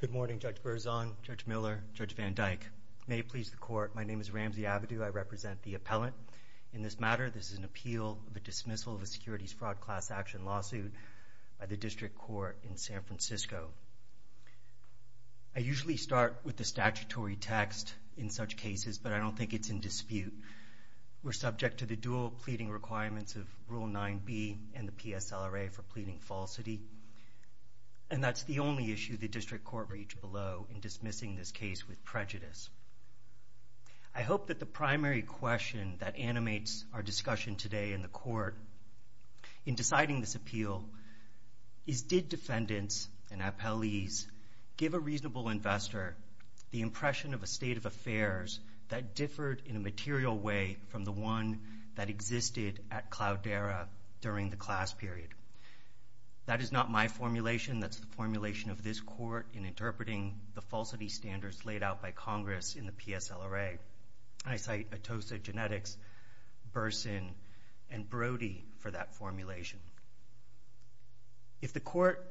Good morning, Judge Berzon, Judge Miller, Judge Van Dyke. May it please the Court, my name is Ramsey Avedu. I represent the appellant. In this matter, this is an appeal of a dismissal of a securities fraud class action lawsuit by the District Court in San Francisco. I usually start with the statutory text in such cases, but I don't think it's in dispute. We're subject to the dual pleading requirements of Rule 9b and the PSLRA for pleading falsity, and that's the only issue the District Court reached below in dismissing this case with prejudice. I hope that the primary question that animates our discussion today in the Court in deciding this appeal is did defendants and appellees give a reasonable investor the impression of a state of affairs that differed in a material way from the one that existed at Cloudera during the class period. That is not my formulation. That's the formulation of this Court in interpreting the falsity standards laid out by Congress in the PSLRA. I cite Atosa Genetics, Berzon, and Brody for that formulation. If the Court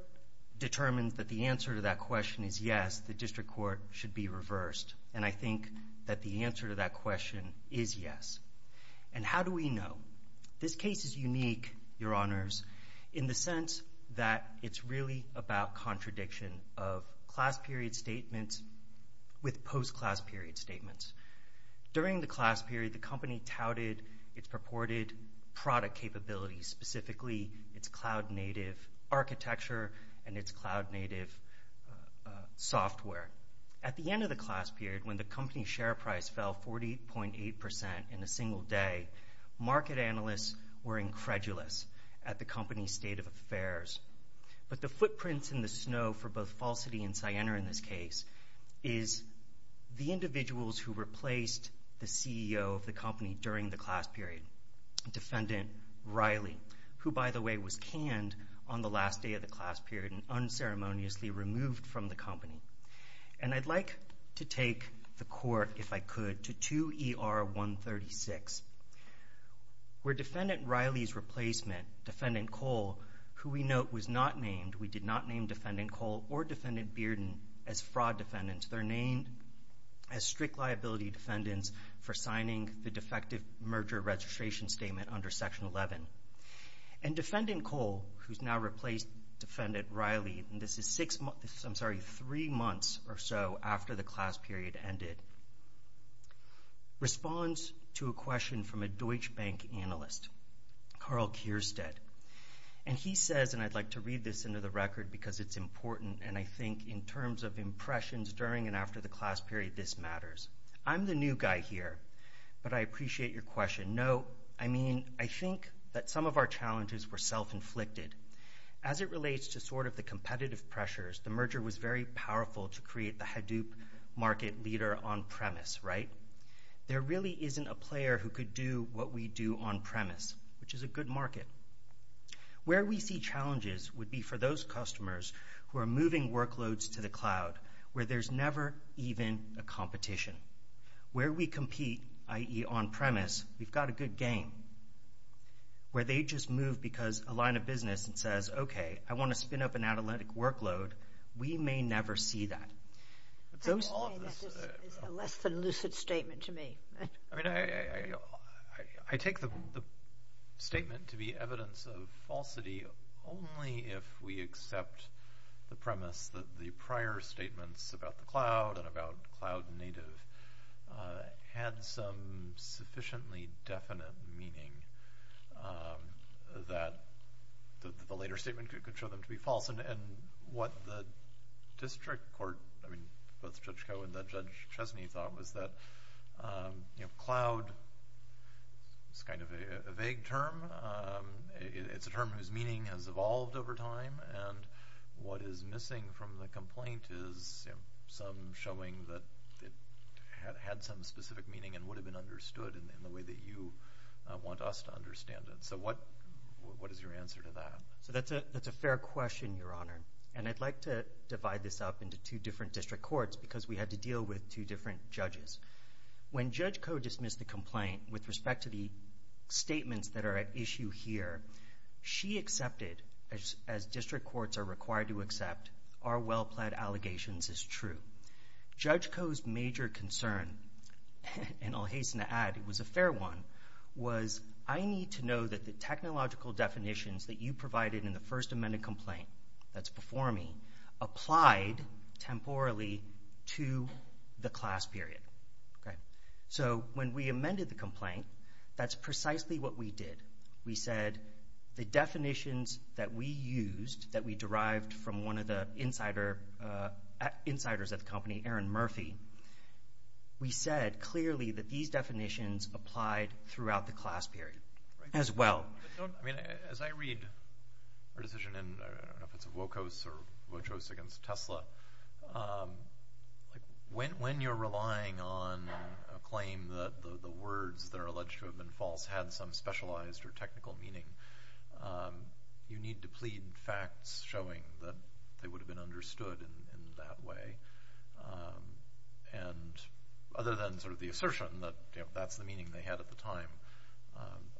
determines that the answer to that question is yes, the District Court should be reversed, and I think that the answer to that question is yes. And how do we know? This case is unique, Your Honors, in the sense that it's really about contradiction of class period statements with post-class period statements. During the class period, the company touted its purported product capabilities, specifically its cloud-native architecture and its cloud-native software. At the end of the class period, when the company's share price fell 48.8% in a single day, market analysts were incredulous at the company's state of affairs. But the footprints in the snow for both falsity and Siena in this case is the individuals who replaced the CEO of the company during the class period, Defendant Riley, who, by the way, was canned on the last day of the class period and unceremoniously removed from the company. And I'd like to take the Court, if I could, to 2 ER 136, where Defendant Riley's replacement, Defendant Cole, who we note was not named, we did not name Defendant Cole or Defendant Bearden as fraud defendants. They're named as strict liability defendants for signing the defective merger registration statement under Section 11. And Defendant Cole, who's now replaced Defendant Riley, and this is six months, I'm sorry, three months or so after the class period ended, responds to a question from a Deutsche Bank analyst, Carl Kirstead. And he says, and I'd like to read this into the record because it's important, and I think in terms of impressions during and after the class period, this matters. I'm the new guy here, but I appreciate your question. And note, I mean, I think that some of our challenges were self-inflicted. As it relates to sort of the competitive pressures, the merger was very powerful to create the Hadoop market leader on-premise, right? There really isn't a player who could do what we do on-premise, which is a good market. Where we see challenges would be for those customers who are moving workloads to the cloud, where there's never even a competition. Where we compete, i.e., on-premise, we've got a good game. Where they just move because a line of business says, okay, I want to spin up an analytic workload, we may never see that. I would say that is a less than lucid statement to me. I mean, I take the statement to be evidence of falsity only if we accept the premise that the prior statements about the cloud and about cloud native had some sufficiently definite meaning that the later statement could show them to be false. And what the district court, I mean, both Judge Koh and Judge Chesney thought was that cloud is kind of a vague term. It's a term whose meaning has evolved over time. And what is missing from the complaint is some showing that it had some specific meaning and would have been understood in the way that you want us to understand it. So what is your answer to that? That's a fair question, Your Honor. And I'd like to divide this up into two different district courts because we had to deal with two different judges. When Judge Koh dismissed the complaint with respect to the statements that are at issue here, she accepted, as district courts are required to accept, our well-pled allegations is true. Judge Koh's major concern, and I'll hasten to add it was a fair one, was I need to know that the technological definitions that you provided in the first amended complaint that's before me applied temporally to the class period. So when we amended the complaint, that's precisely what we did. We said the definitions that we used, that we derived from one of the insiders at the company, Aaron Murphy, we said clearly that these definitions applied throughout the class period as well. As I read our decision in, I don't know if it's Wocos or Wochos against Tesla, when you're relying on a claim that the words that are alleged to have been false had some specialized or technical meaning, you need to plead facts showing that they would have been understood in that way. And other than sort of the assertion that that's the meaning they had at the time,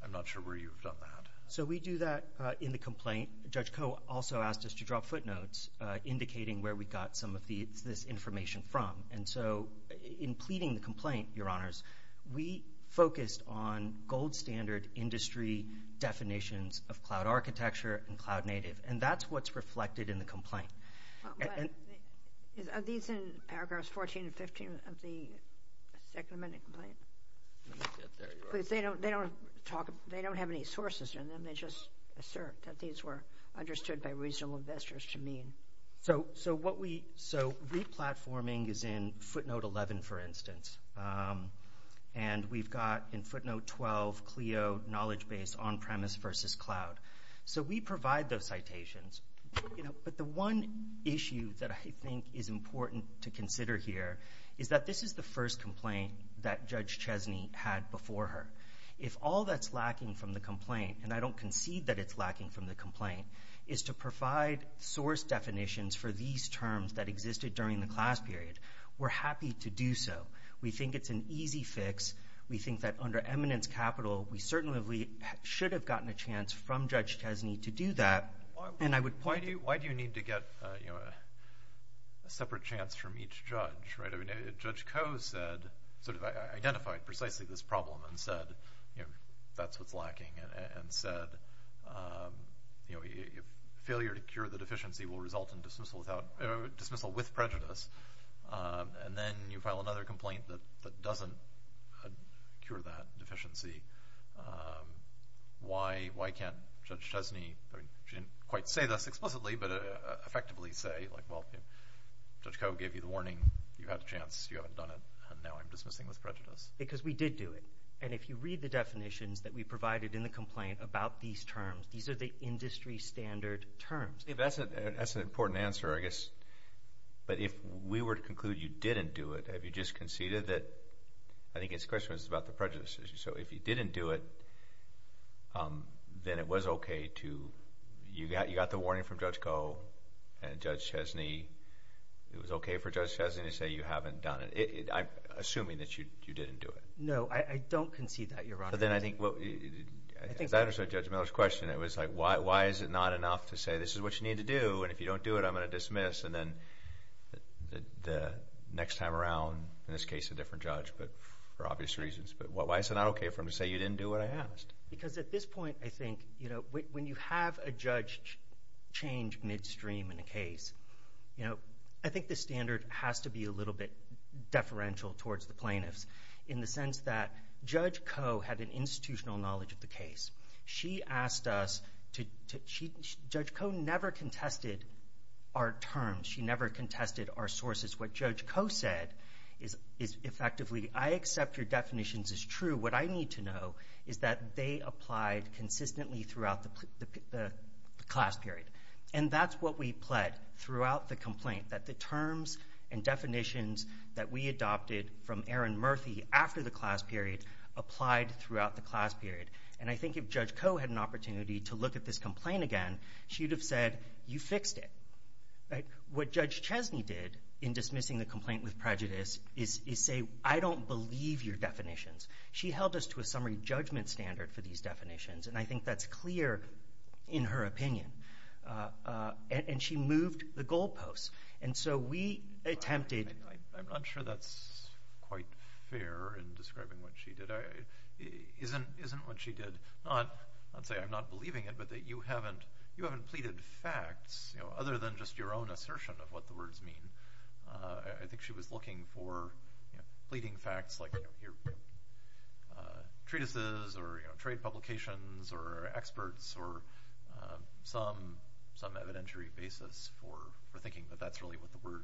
I'm not sure where you've done that. So we do that in the complaint. Judge Koh also asked us to drop footnotes indicating where we got some of this information from. And so in pleading the complaint, Your Honors, we focused on gold standard industry definitions of cloud architecture and cloud native, and that's what's reflected in the complaint. Are these in paragraphs 14 and 15 of the second amended complaint? They don't have any sources in them. Can I just assert that these were understood by reasonable investors to mean? So replatforming is in footnote 11, for instance. And we've got in footnote 12, Clio knowledge base on-premise versus cloud. So we provide those citations. But the one issue that I think is important to consider here is that this is the first complaint that Judge Chesney had before her. If all that's lacking from the complaint, and I don't concede that it's lacking from the complaint, is to provide source definitions for these terms that existed during the class period, we're happy to do so. We think it's an easy fix. We think that under eminence capital, we certainly should have gotten a chance from Judge Chesney to do that. Why do you need to get a separate chance from each judge? Judge Coe identified precisely this problem and said that's what's lacking and said failure to cure the deficiency will result in dismissal with prejudice. And then you file another complaint that doesn't cure that deficiency. Why can't Judge Chesney, she didn't quite say this explicitly, but effectively say, well, Judge Coe gave you the warning, you had a chance, you haven't done it, and now I'm dismissing with prejudice? Because we did do it. And if you read the definitions that we provided in the complaint about these terms, these are the industry standard terms. That's an important answer, I guess. But if we were to conclude you didn't do it, have you just conceded that? I think his question was about the prejudice issue. So if you didn't do it, then it was okay to, you got the warning from Judge Coe and Judge Chesney, it was okay for Judge Chesney to say you haven't done it, assuming that you didn't do it. No, I don't concede that, Your Honor. But then I think, as I understood Judge Miller's question, it was like, why is it not enough to say this is what you need to do, and if you don't do it, I'm going to dismiss, and then the next time around, in this case a different judge, but for obvious reasons. But why is it not okay for him to say you didn't do what I asked? Because at this point, I think, you know, when you have a judge change midstream in a case, you know, I think the standard has to be a little bit deferential towards the plaintiffs, in the sense that Judge Coe had an institutional knowledge of the case. She asked us to, Judge Coe never contested our terms. She never contested our sources. What Judge Coe said is effectively, I accept your definitions as true. What I need to know is that they applied consistently throughout the class period. And that's what we pled throughout the complaint, that the terms and definitions that we adopted from Aaron Murphy after the class period applied throughout the class period. And I think if Judge Coe had an opportunity to look at this complaint again, she would have said, you fixed it. What Judge Chesney did in dismissing the complaint with prejudice is say, I don't believe your definitions. She held us to a summary judgment standard for these definitions, and I think that's clear in her opinion. And she moved the goalposts. And so we attempted- I'm not sure that's quite fair in describing what she did. Isn't what she did, I'd say I'm not believing it, but that you haven't pleaded facts other than just your own assertion of what the words mean. I think she was looking for pleading facts like treatises or trade publications or experts or some evidentiary basis for thinking that that's really what the word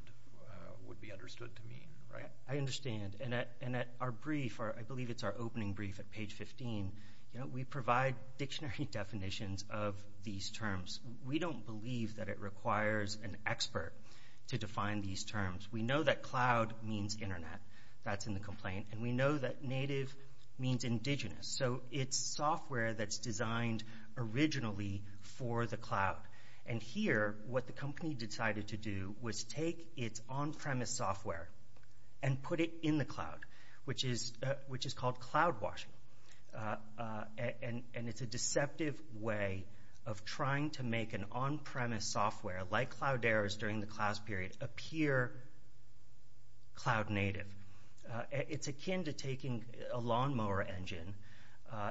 would be understood to mean, right? I understand. And at our brief, I believe it's our opening brief at page 15, we provide dictionary definitions of these terms. We don't believe that it requires an expert to define these terms. We know that cloud means internet. That's in the complaint. And we know that native means indigenous. So it's software that's designed originally for the cloud. And here, what the company decided to do was take its on-premise software and put it in the cloud, which is called cloud washing. And it's a deceptive way of trying to make an on-premise software like Cloudera's during the cloud's period appear cloud native. It's akin to taking a lawnmower engine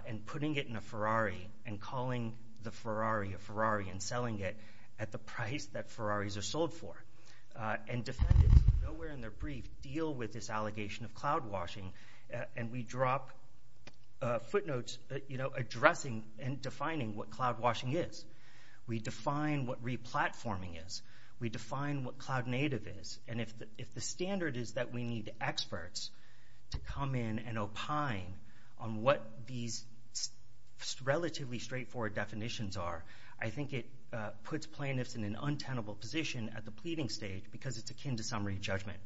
and putting it in a Ferrari and calling the Ferrari a Ferrari and selling it at the price that Ferraris are sold for. And defendants nowhere in their brief deal with this allegation of cloud washing, and we drop footnotes addressing and defining what cloud washing is. We define what replatforming is. We define what cloud native is. And if the standard is that we need experts to come in and opine on what these relatively straightforward definitions are, I think it puts plaintiffs in an untenable position at the pleading stage because it's akin to summary judgment.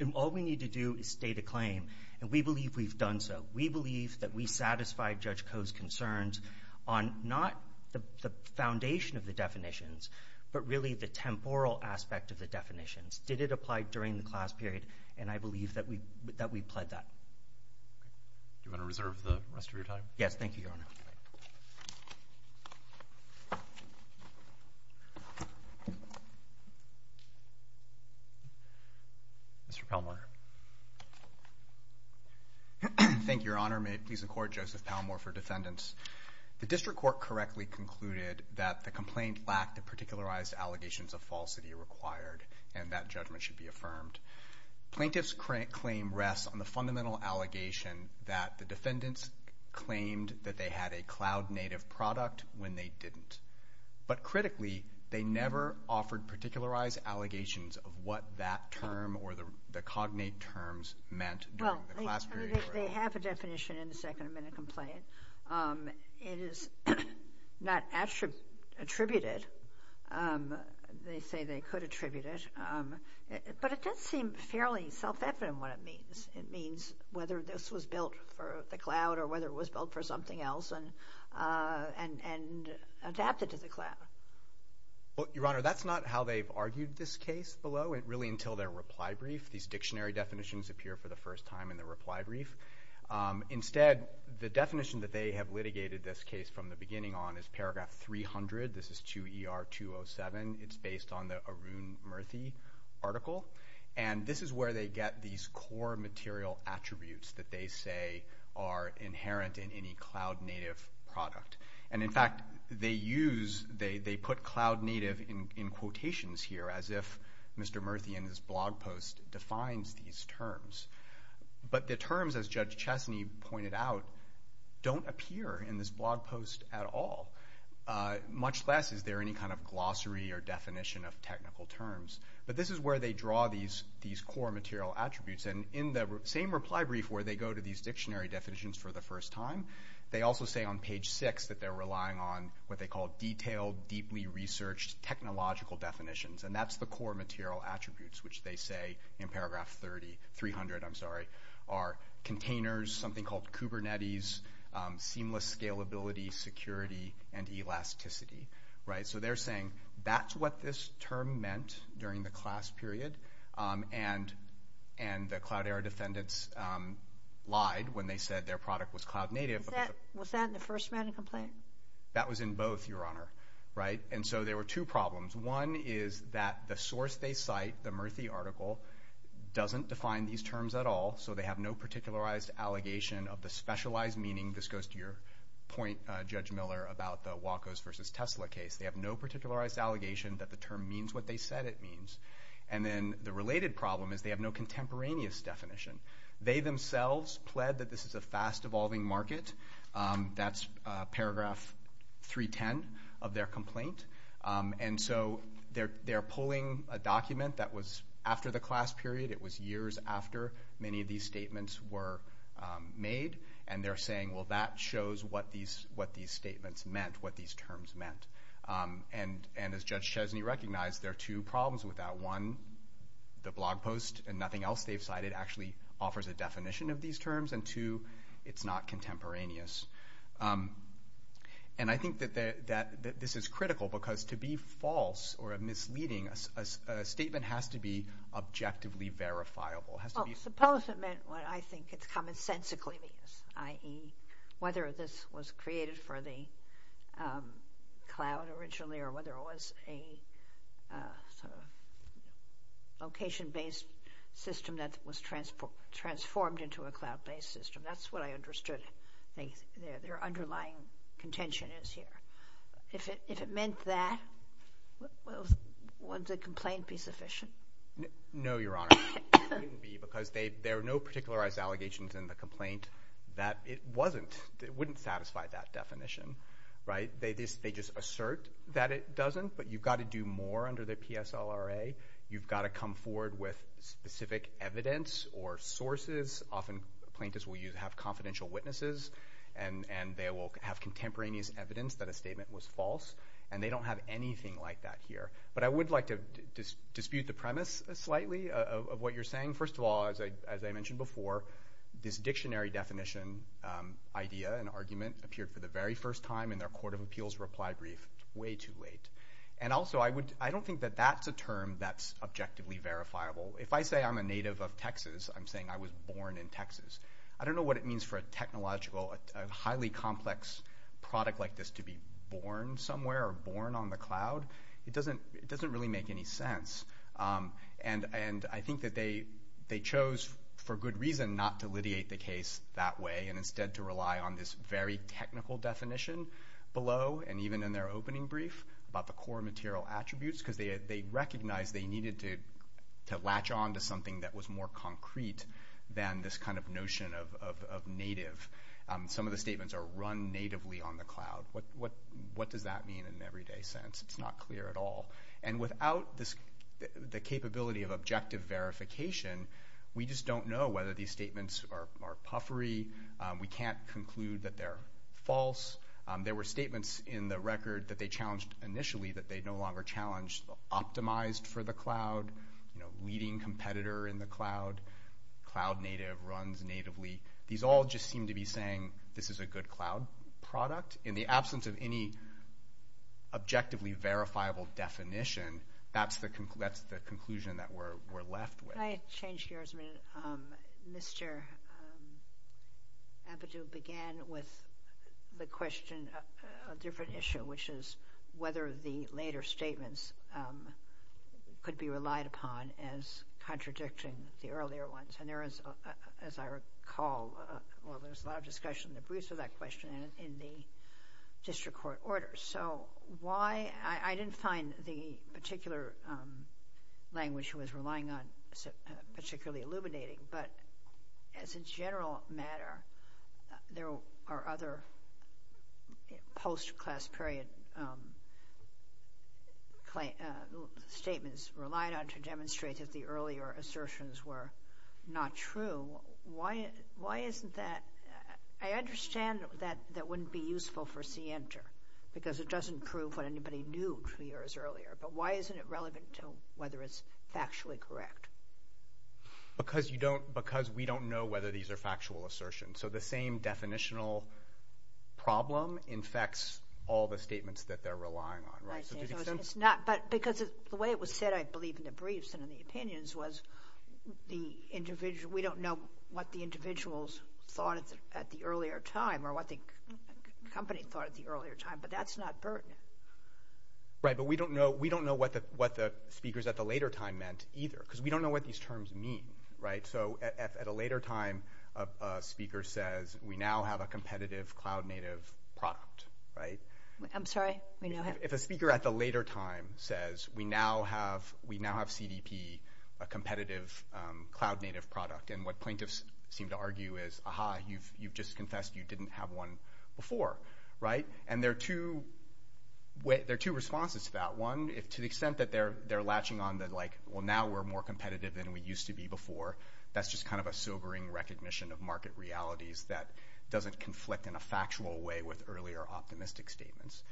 And all we need to do is state a claim, and we believe we've done so. We believe that we satisfied Judge Koh's concerns on not the foundation of the definitions, but really the temporal aspect of the definitions. Did it apply during the cloud's period? And I believe that we pled that. Do you want to reserve the rest of your time? Yes, thank you, Your Honor. Mr. Palmore. Thank you, Your Honor. May it please the Court, Joseph Palmore for defendants. The district court correctly concluded that the complaint lacked the particularized allegations of falsity required, and that judgment should be affirmed. Plaintiffs' claim rests on the fundamental allegation that the defendants claimed that they had a cloud native product when they didn't. But critically, they never offered particularized allegations of what that term or the cognate terms meant during the class period. They have a definition in the second amendment complaint. It is not attributed. They say they could attribute it. But it does seem fairly self-evident what it means. It means whether this was built for the cloud or whether it was built for something else and adapted to the cloud. Well, Your Honor, that's not how they've argued this case below, really until their reply brief. These dictionary definitions appear for the first time in the reply brief. Instead, the definition that they have litigated this case from the beginning on is paragraph 300. This is 2ER207. It's based on the Arun Murthy article. And this is where they get these core material attributes that they say are inherent in any cloud native product. And, in fact, they put cloud native in quotations here as if Mr. Murthy in his blog post defines these terms. But the terms, as Judge Chesney pointed out, don't appear in this blog post at all, much less is there any kind of glossary or definition of technical terms. But this is where they draw these core material attributes. And in the same reply brief where they go to these dictionary definitions for the first time, they also say on page 6 that they're relying on what they call detailed, deeply researched technological definitions. And that's the core material attributes, which they say in paragraph 300 are containers, something called Kubernetes, seamless scalability, security, and elasticity. So they're saying that's what this term meant during the class period. And the Cloudera defendants lied when they said their product was cloud native. Was that in the first written complaint? That was in both, Your Honor. And so there were two problems. One is that the source they cite, the Murthy article, doesn't define these terms at all. So they have no particularized allegation of the specialized meaning. This goes to your point, Judge Miller, about the Wacos versus Tesla case. They have no particularized allegation that the term means what they said it means. And then the related problem is they have no contemporaneous definition. They themselves pled that this is a fast-evolving market. That's paragraph 310 of their complaint. And so they're pulling a document that was after the class period. It was years after many of these statements were made. And they're saying, well, that shows what these statements meant, what these terms meant. And as Judge Chesney recognized, there are two problems with that. One, the blog post and nothing else they've cited actually offers a definition of these terms. And two, it's not contemporaneous. And I think that this is critical because to be false or misleading, a statement has to be objectively verifiable. Well, suppose it meant what I think it's commonsensically means, i.e., whether this was created for the cloud originally or whether it was a location-based system that was transformed into a cloud-based system. That's what I understood their underlying contention is here. If it meant that, would the complaint be sufficient? No, Your Honor. It wouldn't be because there are no particularized allegations in the complaint that it wasn't. It wouldn't satisfy that definition. They just assert that it doesn't, but you've got to do more under the PSLRA. You've got to come forward with specific evidence or sources. Often, plaintiffs will have confidential witnesses, and they will have contemporaneous evidence that a statement was false. And they don't have anything like that here. But I would like to dispute the premise slightly of what you're saying. First of all, as I mentioned before, this dictionary definition idea and argument appeared for the very first time in their court of appeals reply brief way too late. And also, I don't think that that's a term that's objectively verifiable. If I say I'm a native of Texas, I'm saying I was born in Texas. I don't know what it means for a technological, highly complex product like this to be born somewhere or born on the cloud. It doesn't really make any sense. And I think that they chose for good reason not to litigate the case that way and instead to rely on this very technical definition below and even in their opening brief about the core material attributes because they recognized they needed to latch on to something that was more concrete than this kind of notion of native. Some of the statements are run natively on the cloud. What does that mean in an everyday sense? It's not clear at all. And without the capability of objective verification, we just don't know whether these statements are puffery. We can't conclude that they're false. There were statements in the record that they challenged initially that they no longer challenged optimized for the cloud, leading competitor in the cloud, cloud native runs natively. These all just seem to be saying this is a good cloud product. In the absence of any objectively verifiable definition, that's the conclusion that we're left with. Can I change gears a minute? Mr. Abadou began with the question of a different issue, which is whether the later statements could be relied upon as contradicting the earlier ones. And there is, as I recall, well, there's a lot of discussion in the briefs for that question in the district court orders. So why – I didn't find the particular language he was relying on particularly illuminating, but as a general matter, there are other post-class period statements relied on to demonstrate that the earlier assertions were not true. Why isn't that – I understand that that wouldn't be useful for CENTER because it doesn't prove what anybody knew two years earlier, but why isn't it relevant to whether it's factually correct? Because you don't – because we don't know whether these are factual assertions. So the same definitional problem infects all the statements that they're relying on, right? It's not – but because the way it was said, I believe, in the briefs and in the opinions was the individual – at the earlier time or what the company thought at the earlier time, but that's not pertinent. Right, but we don't know what the speakers at the later time meant either because we don't know what these terms mean, right? So at a later time, a speaker says, we now have a competitive cloud-native product, right? I'm sorry? If a speaker at the later time says, we now have CDP, a competitive cloud-native product, and what plaintiffs seem to argue is, ah-ha, you've just confessed you didn't have one before, right? And there are two responses to that. One, to the extent that they're latching on the, like, well, now we're more competitive than we used to be before, that's just kind of a sobering recognition of market realities that doesn't conflict in a factual way with earlier optimistic statements.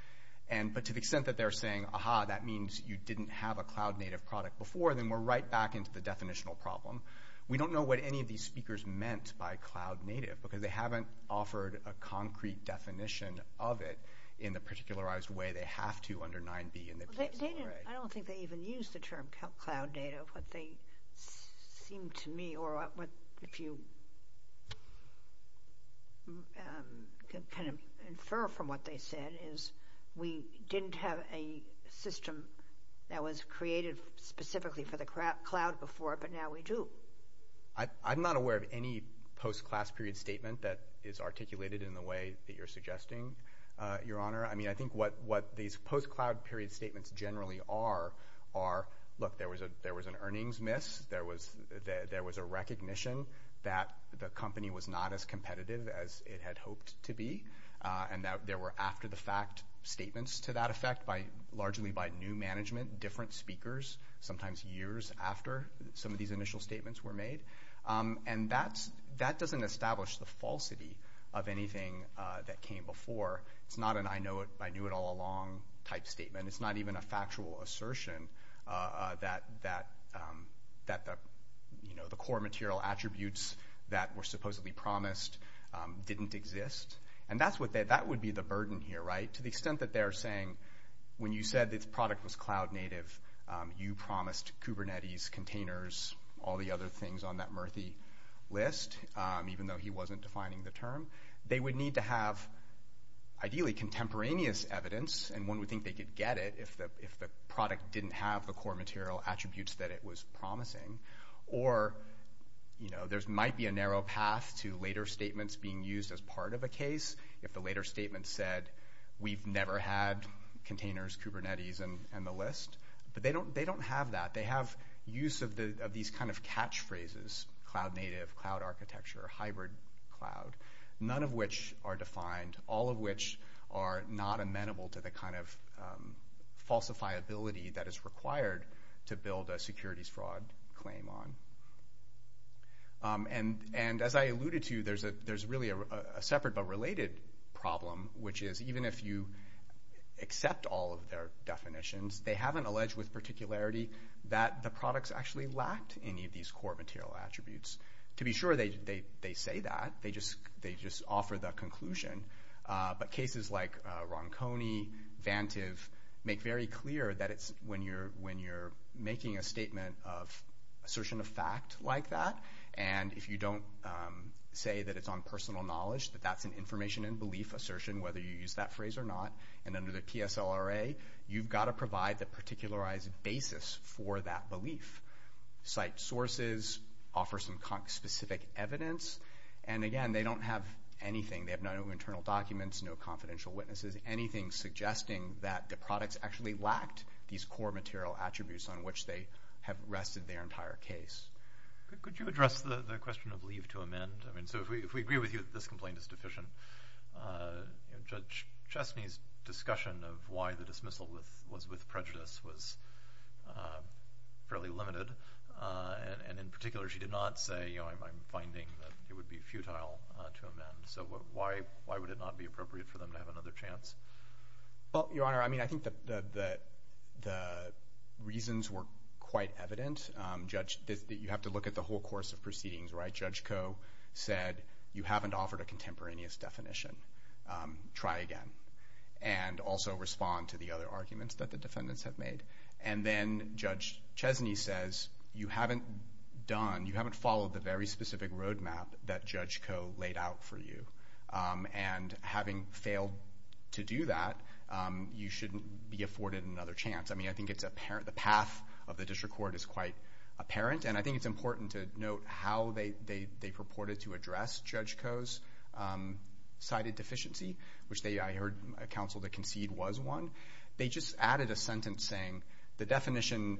But to the extent that they're saying, ah-ha, that means you didn't have a cloud-native product before, then we're right back into the definitional problem. We don't know what any of these speakers meant by cloud-native because they haven't offered a concrete definition of it in the particularized way they have to under 9b in the PSLRA. I don't think they even use the term cloud-native. What they seem to me, or if you kind of infer from what they said, is we didn't have a system that was created specifically for the cloud before, but now we do. I'm not aware of any post-class period statement that is articulated in the way that you're suggesting, Your Honor. I mean, I think what these post-cloud period statements generally are, are, look, there was an earnings miss, there was a recognition that the company was not as competitive as it had hoped to be, and that there were after-the-fact statements to that effect, largely by new management, different speakers, sometimes years after some of these initial statements were made. And that doesn't establish the falsity of anything that came before. It's not an I know it, I knew it all along type statement. It's not even a factual assertion that the core material attributes that were supposedly promised didn't exist. And that would be the burden here, right? To the extent that they're saying, when you said this product was cloud-native, you promised Kubernetes, containers, all the other things on that Murthy list, even though he wasn't defining the term. They would need to have, ideally, contemporaneous evidence, and one would think they could get it if the product didn't have the core material attributes that it was promising. Or, you know, there might be a narrow path to later statements being used as part of a case. If the later statement said, we've never had containers, Kubernetes, and the list. But they don't have that. They have use of these kind of catchphrases, cloud-native, cloud-architecture, hybrid cloud, none of which are defined, all of which are not amenable to the kind of falsifiability that is required to build a securities fraud claim on. And as I alluded to, there's really a separate but related problem, which is even if you accept all of their definitions, they haven't alleged with particularity that the products actually lacked any of these core material attributes. To be sure, they say that. They just offer the conclusion. But cases like Ronconi, Vantiv, make very clear that it's when you're making a statement of assertion of fact like that, and if you don't say that it's on personal knowledge, that that's an information and belief assertion, whether you use that phrase or not. And under the PSLRA, you've got to provide the particularized basis for that belief. Site sources offer some specific evidence. And again, they don't have anything. They have no internal documents, no confidential witnesses, anything suggesting that the products actually lacked these core material attributes on which they have rested their entire case. Could you address the question of leave to amend? I mean, so if we agree with you that this complaint is deficient, Judge Chesney's discussion of why the dismissal was with prejudice was fairly limited, and in particular she did not say, you know, I'm finding that it would be futile to amend. So why would it not be appropriate for them to have another chance? Well, Your Honor, I mean, I think the reasons were quite evident. You have to look at the whole course of proceedings, right? Judge Koh said you haven't offered a contemporaneous definition. Try again. And also respond to the other arguments that the defendants have made. And then Judge Chesney says you haven't done, you haven't followed the very specific roadmap that Judge Koh laid out for you. And having failed to do that, you shouldn't be afforded another chance. I mean, I think the path of the district court is quite apparent, and I think it's important to note how they purported to address Judge Koh's cited deficiency, which I heard counsel to concede was one. They just added a sentence saying the definition,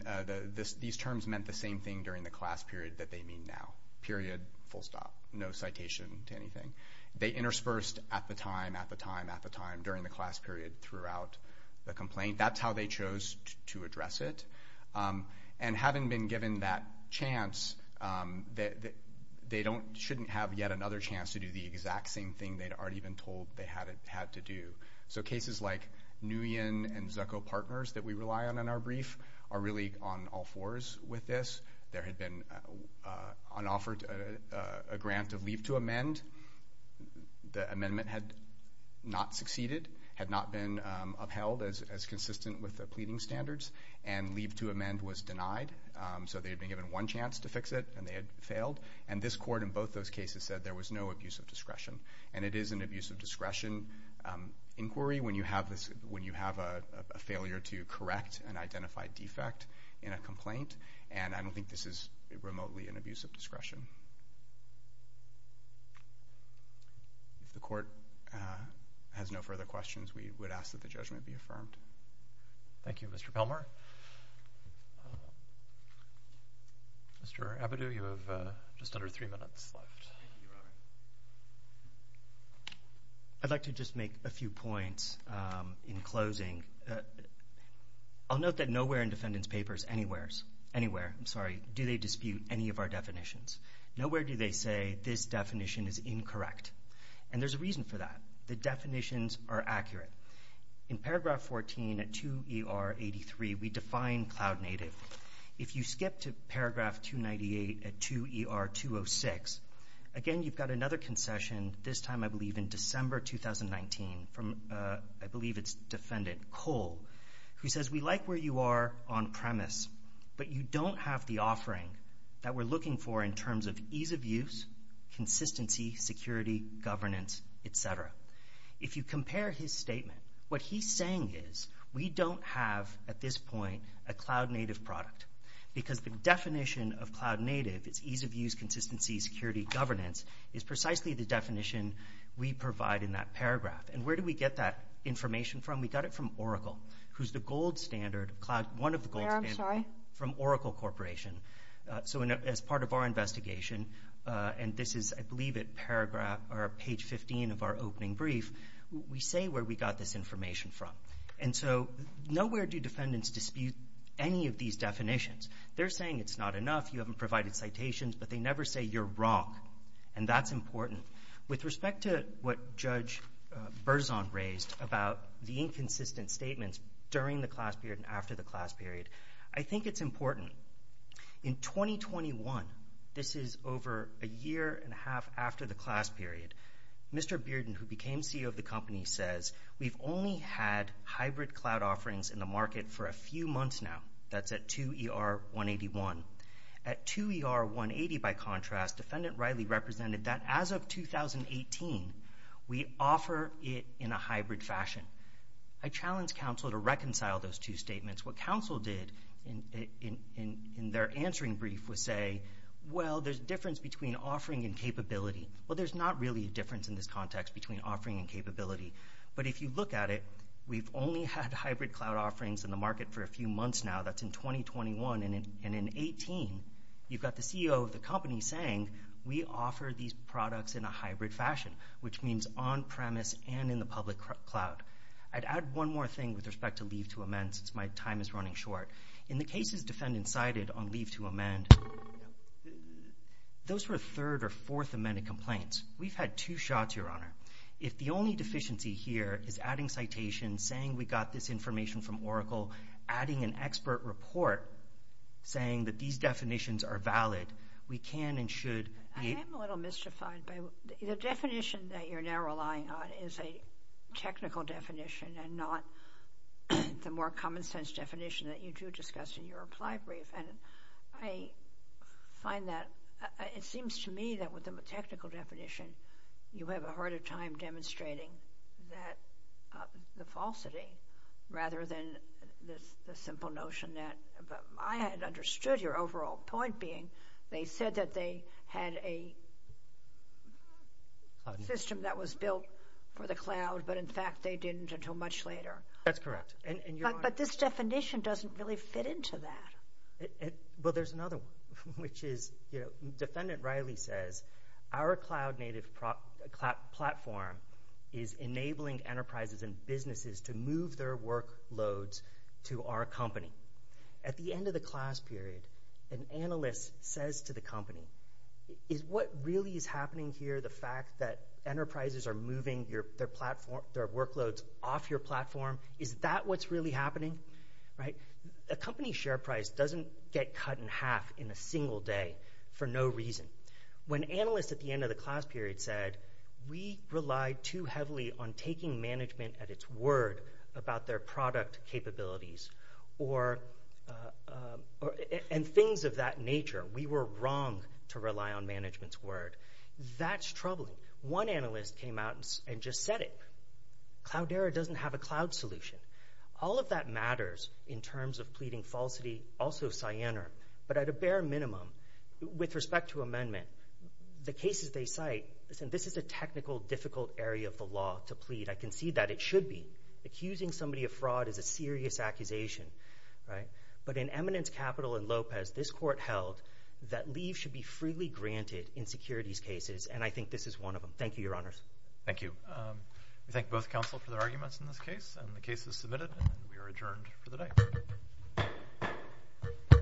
these terms meant the same thing during the class period that they mean now, period, full stop, no citation to anything. They interspersed at the time, at the time, at the time, during the class period, throughout the complaint. I think that's how they chose to address it. And having been given that chance, they shouldn't have yet another chance to do the exact same thing they'd already been told they had to do. So cases like Nguyen and Zucco Partners that we rely on in our brief are really on all fours with this. There had been an offer, a grant of leave to amend. The amendment had not succeeded, had not been upheld as consistent with the pleading standards, and leave to amend was denied. So they had been given one chance to fix it, and they had failed. And this court in both those cases said there was no abuse of discretion. And it is an abuse of discretion inquiry when you have a failure to correct an identified defect in a complaint, and I don't think this is remotely an abuse of discretion. Thank you. If the court has no further questions, we would ask that the judgment be affirmed. Thank you. Mr. Pelmar? Mr. Abadou, you have just under three minutes left. I'd like to just make a few points in closing. I'll note that nowhere in defendant's papers, anywhere, I'm sorry, do they dispute any of our definitions. Nowhere do they say this definition is incorrect. And there's a reason for that. The definitions are accurate. In paragraph 14 at 2ER83, we define cloud native. If you skip to paragraph 298 at 2ER206, again you've got another concession, this time I believe in December 2019, from I believe it's defendant Cole, who says we like where you are on premise, but you don't have the offering that we're looking for in terms of ease of use, consistency, security, governance, et cetera. If you compare his statement, what he's saying is we don't have at this point a cloud native product because the definition of cloud native is ease of use, consistency, security, governance is precisely the definition we provide in that paragraph. And where do we get that information from? We got it from Oracle, who's the gold standard, one of the gold standards from Oracle Corporation. So as part of our investigation, and this is I believe at page 15 of our opening brief, we say where we got this information from. And so nowhere do defendants dispute any of these definitions. They're saying it's not enough, you haven't provided citations, but they never say you're wrong, and that's important. With respect to what Judge Berzon raised about the inconsistent statements during the class period and after the class period, I think it's important. In 2021, this is over a year and a half after the class period, Mr. Bearden, who became CEO of the company, says we've only had hybrid cloud offerings in the market for a few months now. That's at 2ER181. At 2ER180, by contrast, defendant Riley represented that as of 2018, we offer it in a hybrid fashion. I challenge counsel to reconcile those two statements. What counsel did in their answering brief was say, well, there's a difference between offering and capability. Well, there's not really a difference in this context between offering and capability. But if you look at it, we've only had hybrid cloud offerings in the market for a few months now. That's in 2021. And in 2018, you've got the CEO of the company saying we offer these products in a hybrid fashion, which means on premise and in the public cloud. I'd add one more thing with respect to leave to amend since my time is running short. In the cases defendants cited on leave to amend, those were third or fourth amended complaints. We've had two shots, Your Honor. If the only deficiency here is adding citations, saying we got this information from Oracle, adding an expert report saying that these definitions are valid, we can and should be... I am a little mystified. The definition that you're now relying on is a technical definition and not the more common sense definition that you do discuss in your reply brief. And I find that it seems to me that with the technical definition, you have a harder time demonstrating the falsity rather than the simple notion that... I had understood your overall point being they said that they had a system that was built for the cloud, but in fact they didn't until much later. That's correct. But this definition doesn't really fit into that. Well, there's another one, which is... Defendant Riley says, our cloud-native platform is enabling enterprises and businesses to move their workloads to our company. At the end of the class period, an analyst says to the company, is what really is happening here the fact that enterprises are moving their workloads off your platform? Is that what's really happening? A company's share price doesn't get cut in half in a single day for no reason. When analysts at the end of the class period said, we relied too heavily on taking management at its word about their product capabilities and things of that nature, we were wrong to rely on management's word. That's troubling. One analyst came out and just said it. Cloudera doesn't have a cloud solution. All of that matters in terms of pleading falsity, also Cyanar. But at a bare minimum, with respect to amendment, the cases they cite, this is a technical, difficult area of the law to plead. I can see that it should be. Accusing somebody of fraud is a serious accusation. But in eminence capital in Lopez, this court held that leave should be freely granted in securities cases, and I think this is one of them. Thank you, Your Honors. Thank you. We thank both counsel for their arguments in this case. The case is submitted, and we are adjourned for the day.